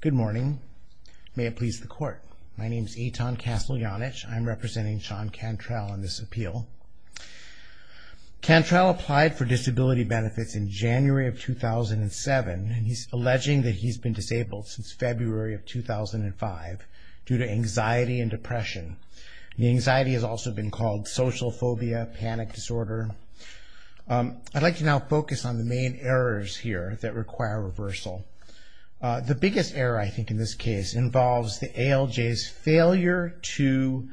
Good morning. May it please the court. My name is Eitan Casteljanic. I'm representing Sean Cantrall on this appeal. Cantrall applied for disability benefits in January of 2007 and he's alleging that he's been disabled since February of 2005 due to anxiety and depression. The anxiety has also been called social phobia, panic disorder. I'd like to now focus on the main errors here that require reversal. The biggest error I think in this case involves the ALJ's failure to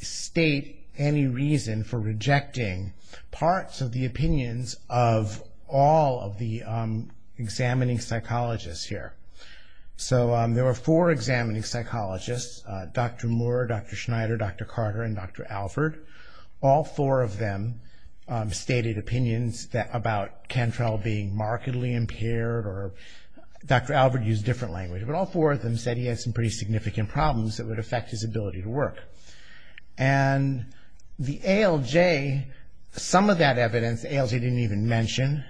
state any reason for rejecting parts of the opinions of all of the examining psychologists here. So there were four examining psychologists, Dr. Moore, Dr. Schneider, Dr. Carter and Dr. Alford. All four of them stated opinions about Cantrall being markedly impaired. Dr. Alford used a different language, but all four of them said he had some pretty significant problems that would affect his ability to work. And the ALJ, some of that evidence the ALJ didn't even mention,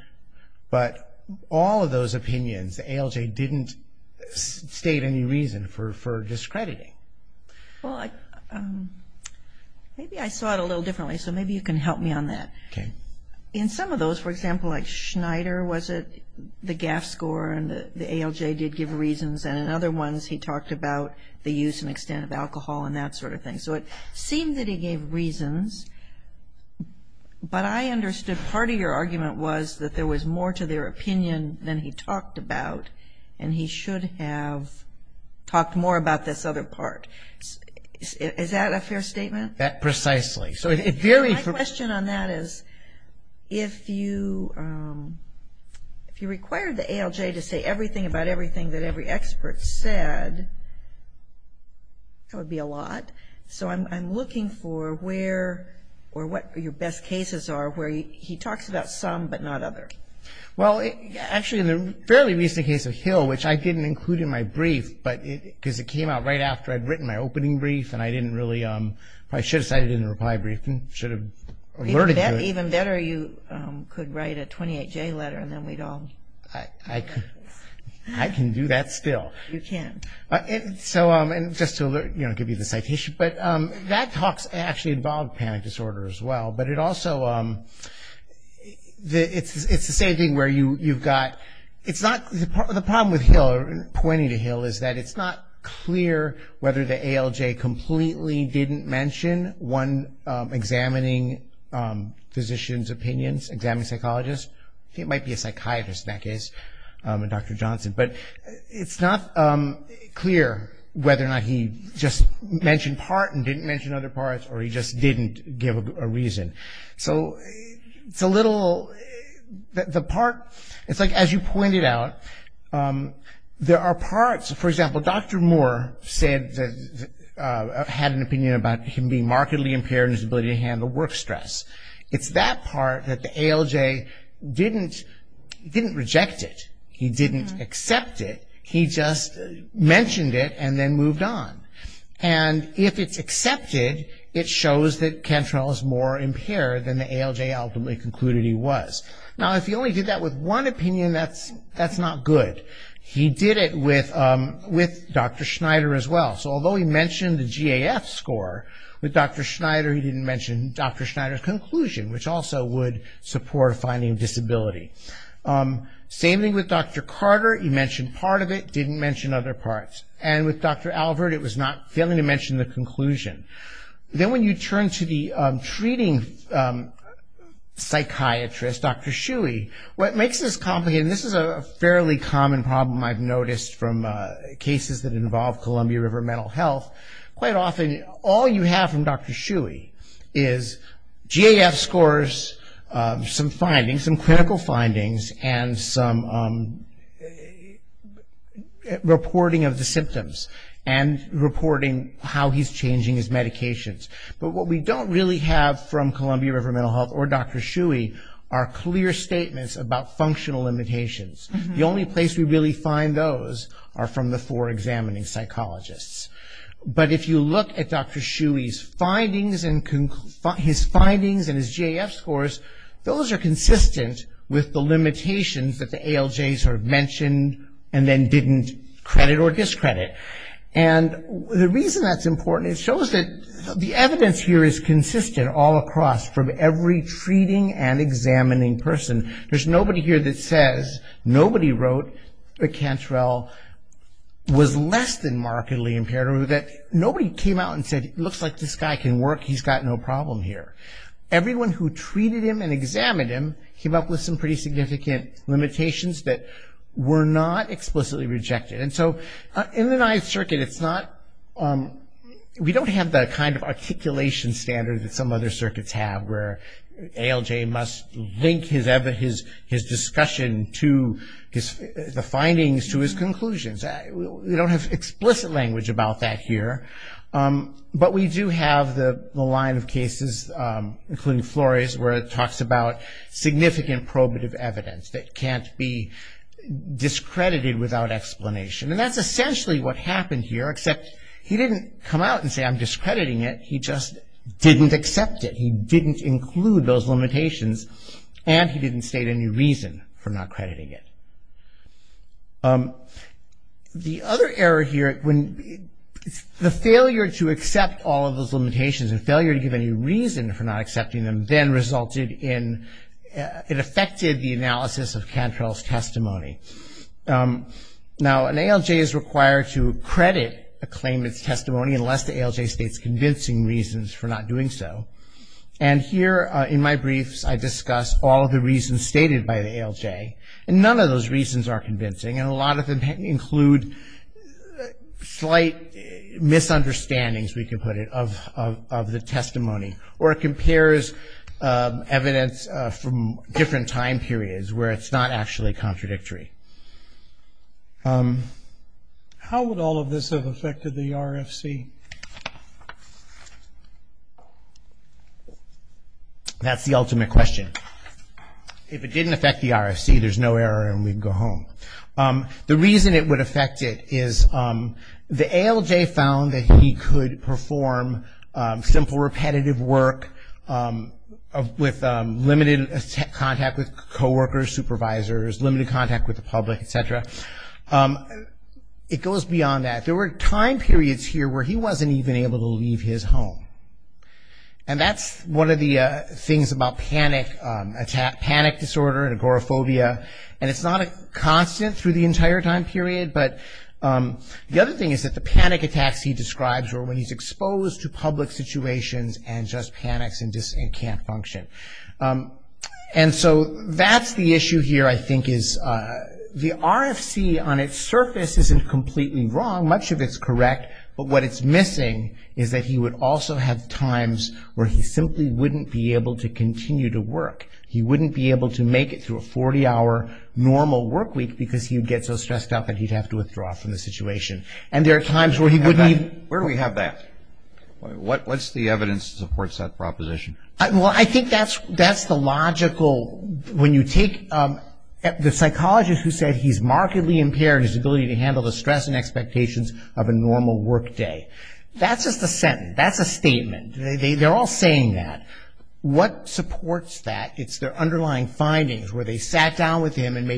but all of those opinions the ALJ didn't state any reason for discrediting. Carolyn W. Colvin Well, maybe I saw it a little differently, so maybe you can help me on that. In some of those, for example, like Schneider, was it the GAF score and the ALJ did give reasons, and in other ones he talked about the use and extent of alcohol and that sort of thing. So it seemed that he gave reasons, but I understood part of your argument was that there was more to their opinion than he talked about, and he should have talked more about this other part. Is that a fair statement? Dr. Alford That precisely. So it varied from... Carolyn W. Colvin My question on that is, if you required the ALJ to say everything about everything that every expert said, that would be a lot. So I'm looking for where or what your best cases are where he talks about some but not others. Dr. Alford Well, actually in the fairly recent case of Hill, which I didn't include in my brief, because it came out right after I'd written my opening brief, and I didn't really, I should have cited it in the reply brief and should have alerted you. Carolyn W. Colvin Even better, you could write a 28-J letter and then we'd all... Dr. Alford I can do that still. Carolyn W. Colvin You can. Dr. Alford So, and just to give you the citation, but that talk actually involved panic disorder as well, but it also, it's the same thing where you've got, it's not, the problem with Hill, pointing to Hill, is that it's not clear whether the ALJ completely didn't mention one examining physician's opinions, examining psychologist, he might be a psychiatrist in that case, Dr. Johnson, but it's not clear whether or not he just mentioned part and didn't mention other parts or he just didn't give a reason. So it's a little, the part, it's like as you pointed out, there are parts, for example, Dr. Moore said, had an opinion about him being markedly impaired in his ability to handle work stress. It's that part that the ALJ didn't, didn't reject it, he didn't accept it, he just mentioned it and then moved on. And if it's accepted, it shows that Cantrell is more impaired than the ALJ ultimately concluded he was. Now if he only did that with one opinion, that's not good. He did it with Dr. Schneider as well. So although he mentioned the GAF score, with Dr. Schneider, he didn't mention Dr. Schneider's conclusion, which also would support finding a disability. Same thing with Dr. Carter, he mentioned part of it, didn't mention other parts. And with Dr. Albert, it was not, failing to mention the conclusion. Then when you turn to the treating psychiatrist, Dr. Shuey, what makes this complicated, and this is a fairly common problem I've noticed from cases that involve Columbia River Mental Health, quite often all you have from Dr. Shuey is GAF scores, some findings, some clinical findings and some reporting of the symptoms and reporting how he's changing his medications. But what we don't really have from Columbia River Mental Health or Dr. Shuey are clear statements about functional limitations. The only place we really find those are from the four examining psychologists. But if you look at Dr. Shuey's findings and his GAF scores, those are consistent with the limitations that the ALJ sort of mentioned and then didn't credit or discredit. And the reason that's important is it shows that the evidence here is consistent all across from every treating and examining person. There's nobody here that says, nobody wrote that Cantrell was less than markedly impaired or that nobody came out and said, it looks like this guy can work, he's got no problem here. Everyone who treated him and examined him came up with some pretty significant limitations that were not explicitly rejected. And so in the Ninth Circuit, it's not, we don't have that kind of articulation standard that some other circuits have where ALJ must link his discussion to the findings to his conclusions. We don't have explicit language about that here. But we do have the line of cases, including Flores, where it talks about significant probative evidence that can't be discredited without explanation. And that's essentially what happened here, except he didn't come out and say I'm discrediting it, he just didn't accept it. He didn't include those limitations and he didn't state any reason for not crediting it. The other error here, the failure to accept all of those limitations and failure to give any reason for not accepting them then resulted in, it affected the analysis of Cantrell's Now an ALJ is required to credit a claimant's testimony unless the ALJ states convincing reasons for not doing so. And here, in my briefs, I discuss all of the reasons stated by the ALJ and none of those reasons are convincing and a lot of them include slight misunderstandings, we can put it, of the testimony. Or it compares evidence from different time periods where it's not actually contradictory. How would all of this have affected the RFC? That's the ultimate question. If it didn't affect the RFC, there's no error and we'd go home. The reason it would affect it is the ALJ found that he could perform simple repetitive work with limited contact with co-workers, supervisors, limited contact with the public, etc. It goes beyond that. There were time periods here where he wasn't even able to leave his home. And that's one of the things about panic disorder and agoraphobia and it's not a constant through the entire time period, but the other thing is that the person just panics and just can't function. And so that's the issue here, I think, is the RFC on its surface isn't completely wrong, much of it's correct, but what it's missing is that he would also have times where he simply wouldn't be able to continue to work. He wouldn't be able to make it through a 40-hour normal work week because he would get so stressed out that he'd have to withdraw from the situation. And there are times where he wouldn't even... supports that proposition. I think that's the logical... when you take the psychologist who said he's markedly impaired in his ability to handle the stress and expectations of a normal work day. That's just a sentence. That's a statement. They're all saying that. What supports that is their underlying findings where they sat down with him and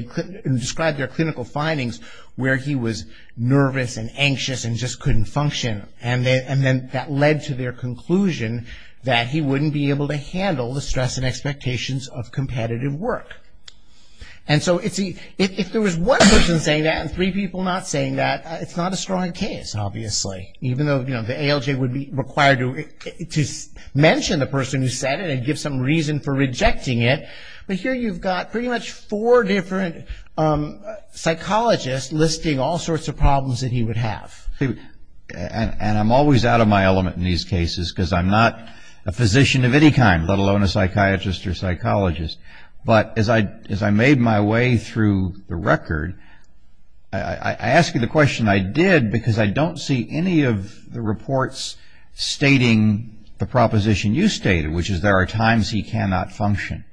described their clinical findings where he was nervous and anxious and just couldn't function, and then that led to their conclusion that he wouldn't be able to handle the stress and expectations of competitive work. And so if there was one person saying that and three people not saying that, it's not a strong case, obviously. Even though the ALJ would be required to mention the person who said it and give some reason for rejecting it, but here you've got pretty much four different psychologists listing all sorts of problems that he would have. And I'm always out of my element in these cases because I'm not a physician of any kind, let alone a psychiatrist or psychologist. But as I made my way through the record, I ask you the question I did because I don't see any of the reports stating the proposition you stated, which is there are times he cannot function.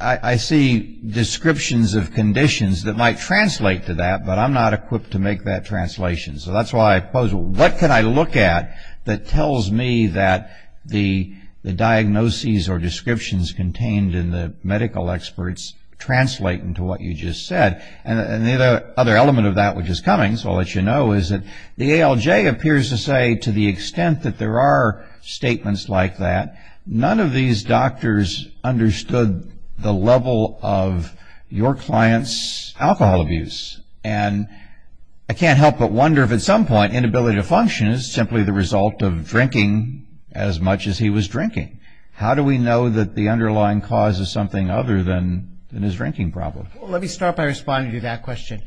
I see descriptions of conditions that might translate to that, but I'm not equipped to make that translation. So that's why I pose, what can I look at that tells me that the diagnoses or descriptions contained in the medical experts translate into what you just said? And the other element of that which is coming, so I'll let you know, is that the ALJ appears to say to the extent that there are statements like that, none of these doctors understood the level of your client's alcohol abuse. And I can't help but wonder if at some point inability to function is simply the result of drinking as much as he was drinking. How do we know that the underlying cause is something other than his drinking problem? Let me start by responding to that question.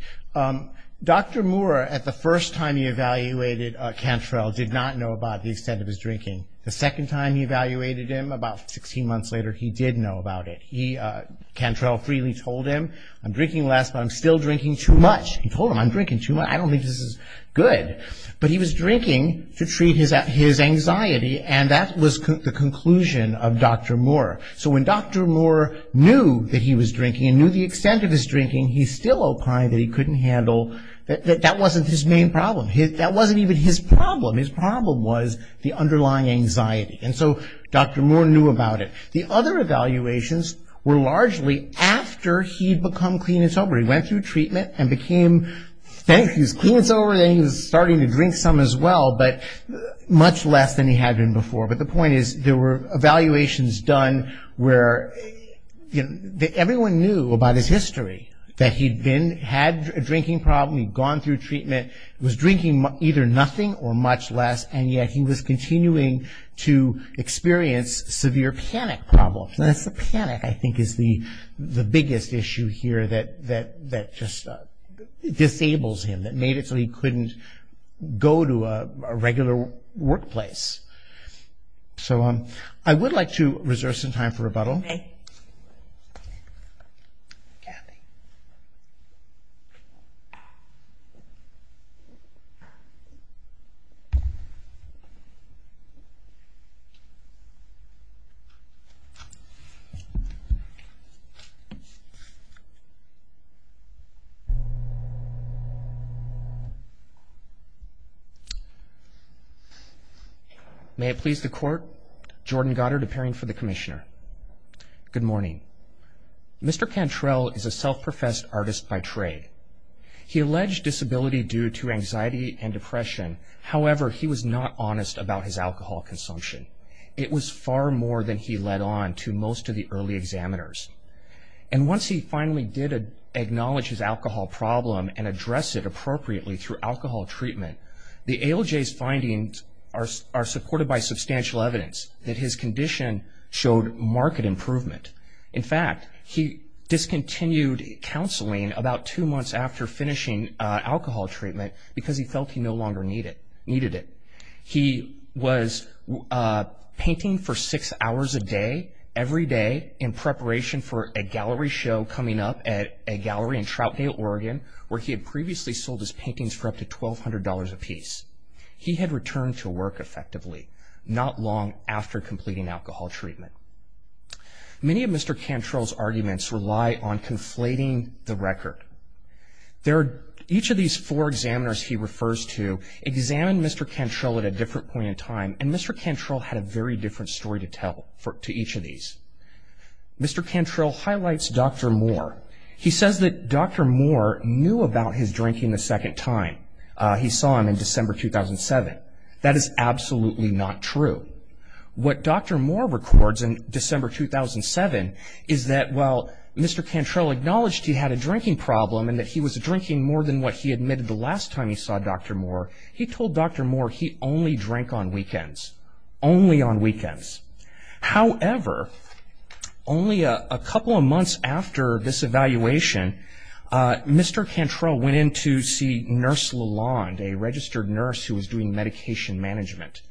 Dr. Moore at the first time he evaluated Cantrell did not know about the extent of his drinking. The second time he evaluated him, about 16 months later, he did know about it. Cantrell freely told him, I'm drinking less, but I'm still drinking too much. He told him, I'm drinking too much, I don't think this is good. But he was drinking to treat his anxiety, and that was the conclusion of Dr. Moore. So when Dr. Moore knew that he was drinking, and knew the extent of his drinking, he still opined that he couldn't handle, that that wasn't his main problem. That wasn't even his problem. His problem was the underlying anxiety. And so Dr. Moore knew about it. The other evaluations were largely after he'd become clean and sober. He went through treatment and became, then he was clean and sober, then he was starting to drink some as well, but much less than he had been before. But the point is, there were evaluations done where everyone knew about his history, that he'd been, had a drinking problem, he'd gone through treatment, was drinking either nothing or much less, and yet he was continuing to experience severe panic problems. And that's the panic, I think, is the biggest issue here that just disables him, that made it so he couldn't go to a regular workplace. So I would like to reserve some time for rebuttal. May it please the Court. Jordan Goddard, appearing for the Commissioner. Good morning. Mr. Cantrell is a self-professed artist by trade. He alleged disability due to anxiety and depression. However, he was not honest about his alcohol consumption. It was far more than he led on to most of the early examiners. And once he finally did acknowledge his alcohol problem and address it appropriately through alcohol treatment, the ALJ's findings are supported by substantial evidence that his condition showed marked improvement. In fact, he discontinued counseling about two months after finishing alcohol treatment because he felt he no longer needed it. He was painting for six hours a day, every day, in preparation for a gallery show coming up at a gallery in Troutdale, Oregon, where he had previously sold his paintings for up to $1,200 apiece. He had returned to work effectively, not long after completing alcohol treatment. Many of Mr. Cantrell's arguments rely on conflating the record. Each of these four examiners he refers to examined Mr. Cantrell at a different point in time, and Mr. Cantrell had a very different story to tell to each of these. Mr. Cantrell highlights Dr. Moore. He says that Dr. Moore knew about his drinking a second time. He saw him in December 2007. That is absolutely not true. What Dr. Moore records in December 2007 is that while Mr. Cantrell acknowledged he had a drinking problem and that he was drinking more than what he admitted the last time he saw Dr. Moore, he told Dr. Moore not to drink on weekends, only on weekends. However, only a couple of months after this evaluation, Mr. Cantrell went in to see Nurse Lalonde, a registered nurse who was doing medication management.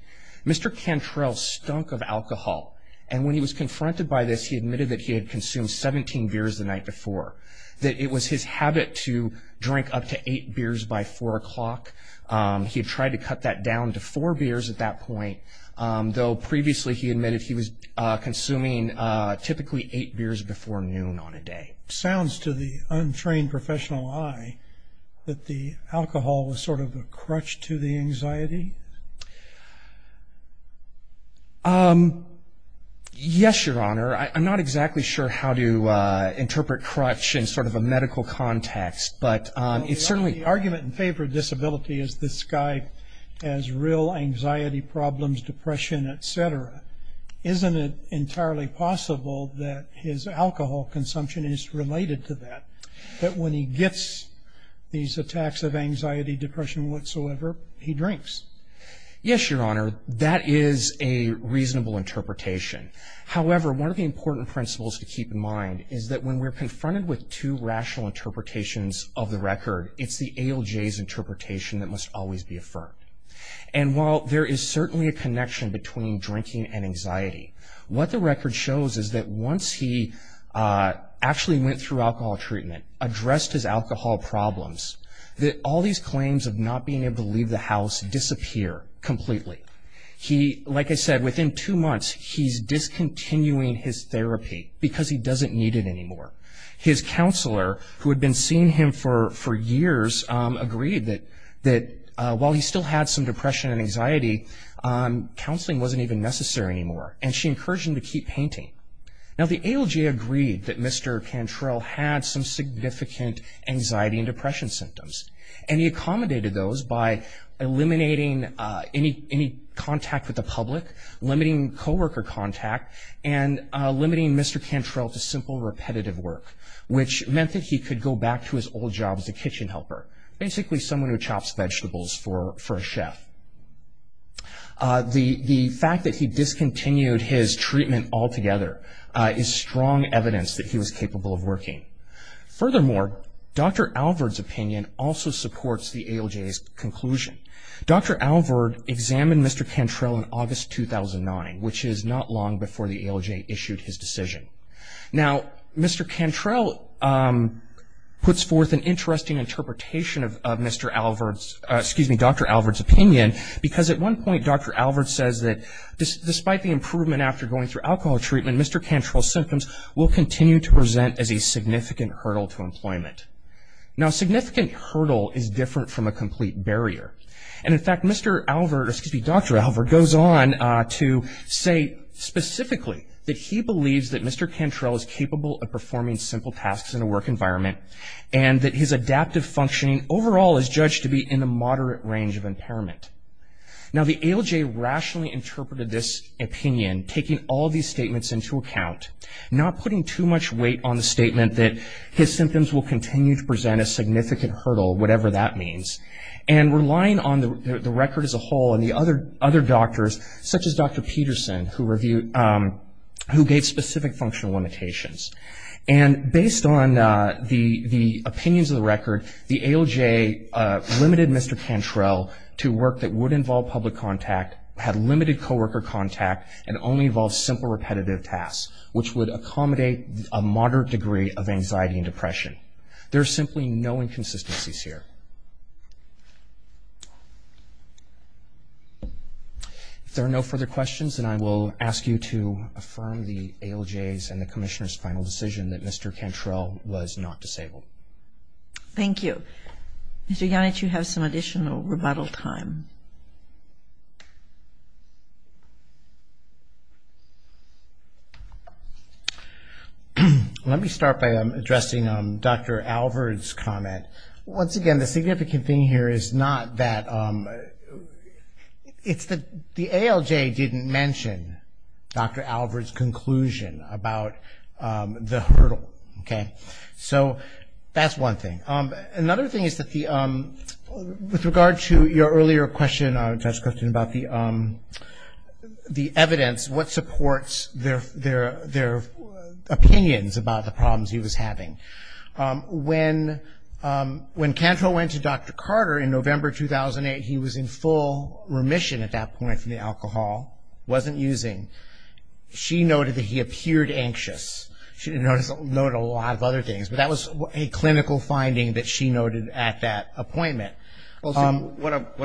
Mr. Cantrell stunk of alcohol, and when he was confronted by this, he admitted that he had consumed 17 beers the night before, that it was his habit to drink up to eight beers by four o'clock. He had tried to cut that down to four beers at that point, though previously he admitted he was consuming typically eight beers before noon on a day. Sounds to the untrained professional eye that the alcohol was sort of a crutch to the anxiety. Yes, Your Honor. I'm not exactly sure how to interpret crutch in sort of a medical context but it's certainly... The argument in favor of disability is this guy has real anxiety problems, depression, etc. Isn't it entirely possible that his alcohol consumption is related to that? That when he gets these attacks of anxiety, depression whatsoever, he drinks? Yes, Your Honor. That is a reasonable interpretation. However, one of the important principles to the record, it's the ALJ's interpretation that must always be affirmed. And while there is certainly a connection between drinking and anxiety, what the record shows is that once he actually went through alcohol treatment, addressed his alcohol problems, that all these claims of not being able to leave the house disappear completely. He, like I said, within two months, he's discontinuing his therapy because he doesn't need it anymore. His counselor, who had been seeing him for years, agreed that while he still had some depression and anxiety, counseling wasn't even necessary anymore and she encouraged him to keep painting. Now the ALJ agreed that Mr. Cantrell had some significant anxiety and depression symptoms and he accommodated those by eliminating any contact with the public, limiting co-worker contact, and limiting Mr. Cantrell to simple repetitive work, which meant that he could go back to his old job as a kitchen helper, basically someone who chops vegetables for a chef. The fact that he discontinued his treatment altogether is strong evidence that he was capable of working. Furthermore, Dr. Alvord's opinion also supports the ALJ's conclusion. Dr. Alvord examined Mr. Cantrell in August 2009, which is not long before the ALJ issued his decision. Now Mr. Cantrell puts forth an interesting interpretation of Dr. Alvord's opinion because at one point Dr. Alvord says that despite the improvement after going through alcohol treatment, Mr. Cantrell's symptoms will continue to present as a significant hurdle to employment. Now Dr. Alvord goes on to say specifically that he believes that Mr. Cantrell is capable of performing simple tasks in a work environment and that his adaptive functioning overall is judged to be in the moderate range of impairment. Now the ALJ rationally interpreted this opinion, taking all these statements into account, not putting too much weight on the statement that his symptoms will continue to present a significant hurdle, whatever that means, and relying on the record as a whole and the other doctors, such as Dr. Peterson, who gave specific functional limitations. And based on the opinions of the record, the ALJ limited Mr. Cantrell to work that would involve public contact, had limited co-worker contact, and only involved simple repetitive tasks, which would accommodate a moderate degree of anxiety and depression. There are simply no inconsistencies here. If there are no further questions, then I will ask you to affirm the ALJs and the Commissioner's final decision that Mr. Cantrell was not disabled. Thank you. Mr. Yanich, you have some additional rebuttal time. Let me start by addressing Dr. Alvord's comment. Once again, the significant thing here is not that the ALJ didn't mention Dr. Alvord's conclusion about the hurdle. So that's one thing. Another thing is that with regard to your earlier question about the evidence, what supports their opinions about the problems he was having. When Cantrell went to Dr. Carter in November 2008, he was in full remission at that point from the alcohol, wasn't using. She noted that he appeared anxious. She noted a lot of other things, but that was a clinical finding that she noted at that appointment. What I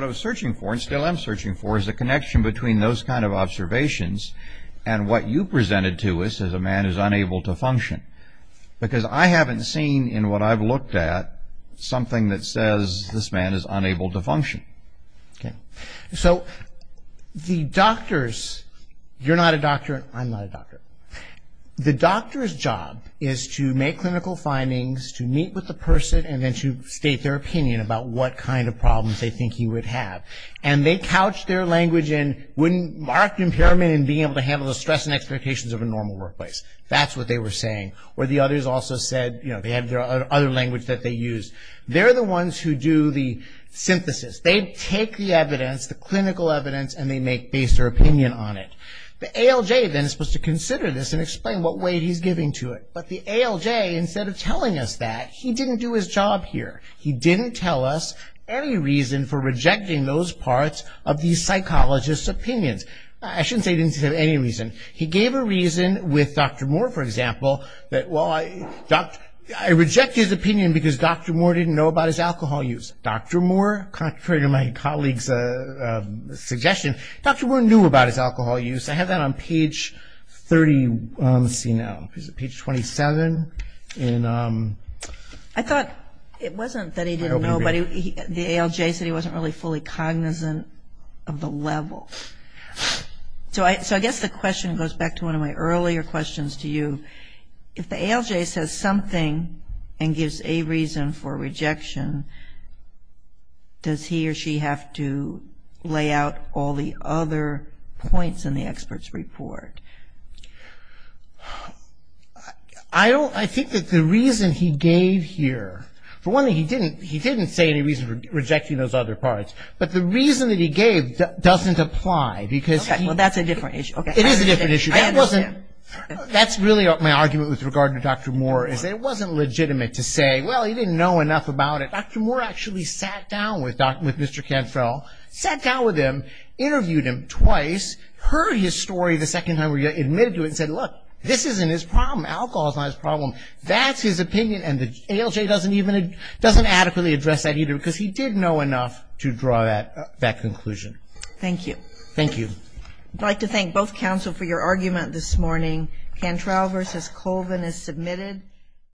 was searching for, and still am searching for, is the connection between those kinds of observations and what you presented to us as a man who is unable to function. Because I haven't seen in what I've looked at something that says this man is unable to function. So the doctors, you're not a doctor, I'm not a doctor. The doctor's job is to make clinical findings, to meet with the person, and then to state their opinion about what kind of problems they think he would have. And they couched their language and wouldn't mark impairment in being able to handle the stress and expectations of a normal workplace. That's what they were saying. Or the others also said they had their other language that they used. They're the ones who do the synthesis. They take the evidence, the clinical evidence, and they base their opinion on it. The ALJ then is supposed to consider this and explain what weight he's giving to it. But the ALJ, instead of telling us that, he didn't do his job here. He didn't tell us any reason for rejecting those parts of these psychologists' opinions. I shouldn't say he didn't have any reason. He gave a reason with Dr. Moore, for example, that, well, I reject his opinion because Dr. Moore didn't know about his alcohol use. Dr. Moore, contrary to my colleague's suggestion, Dr. Moore knew about his alcohol use. I have that on page 37. I thought it wasn't that he didn't know, but the ALJ said he wasn't really fully cognizant of the level. So I guess the question goes back to one of my earlier questions to you. If the ALJ says something and gives a reason for rejection, does he or she have to lay out all the other points in the expert's report? I think that the reason he gave here, for one thing, he didn't say any reason for rejecting those other parts. But the reason that he gave doesn't apply because he Well, that's a different issue. It is a different issue. That's really my argument with regard to Dr. Moore, is that it wasn't legitimate to say, well, he didn't know enough about it. Dr. Moore actually sat down with him, interviewed him twice, heard his story the second time he admitted to it and said, look, this isn't his problem. Alcohol is not his problem. That's his opinion. And the ALJ doesn't adequately address that either because he didn't know enough to draw that conclusion. Thank you. Thank you. I'd like to thank both counsel for your argument this morning. Cantrell v. Colvin is submitted.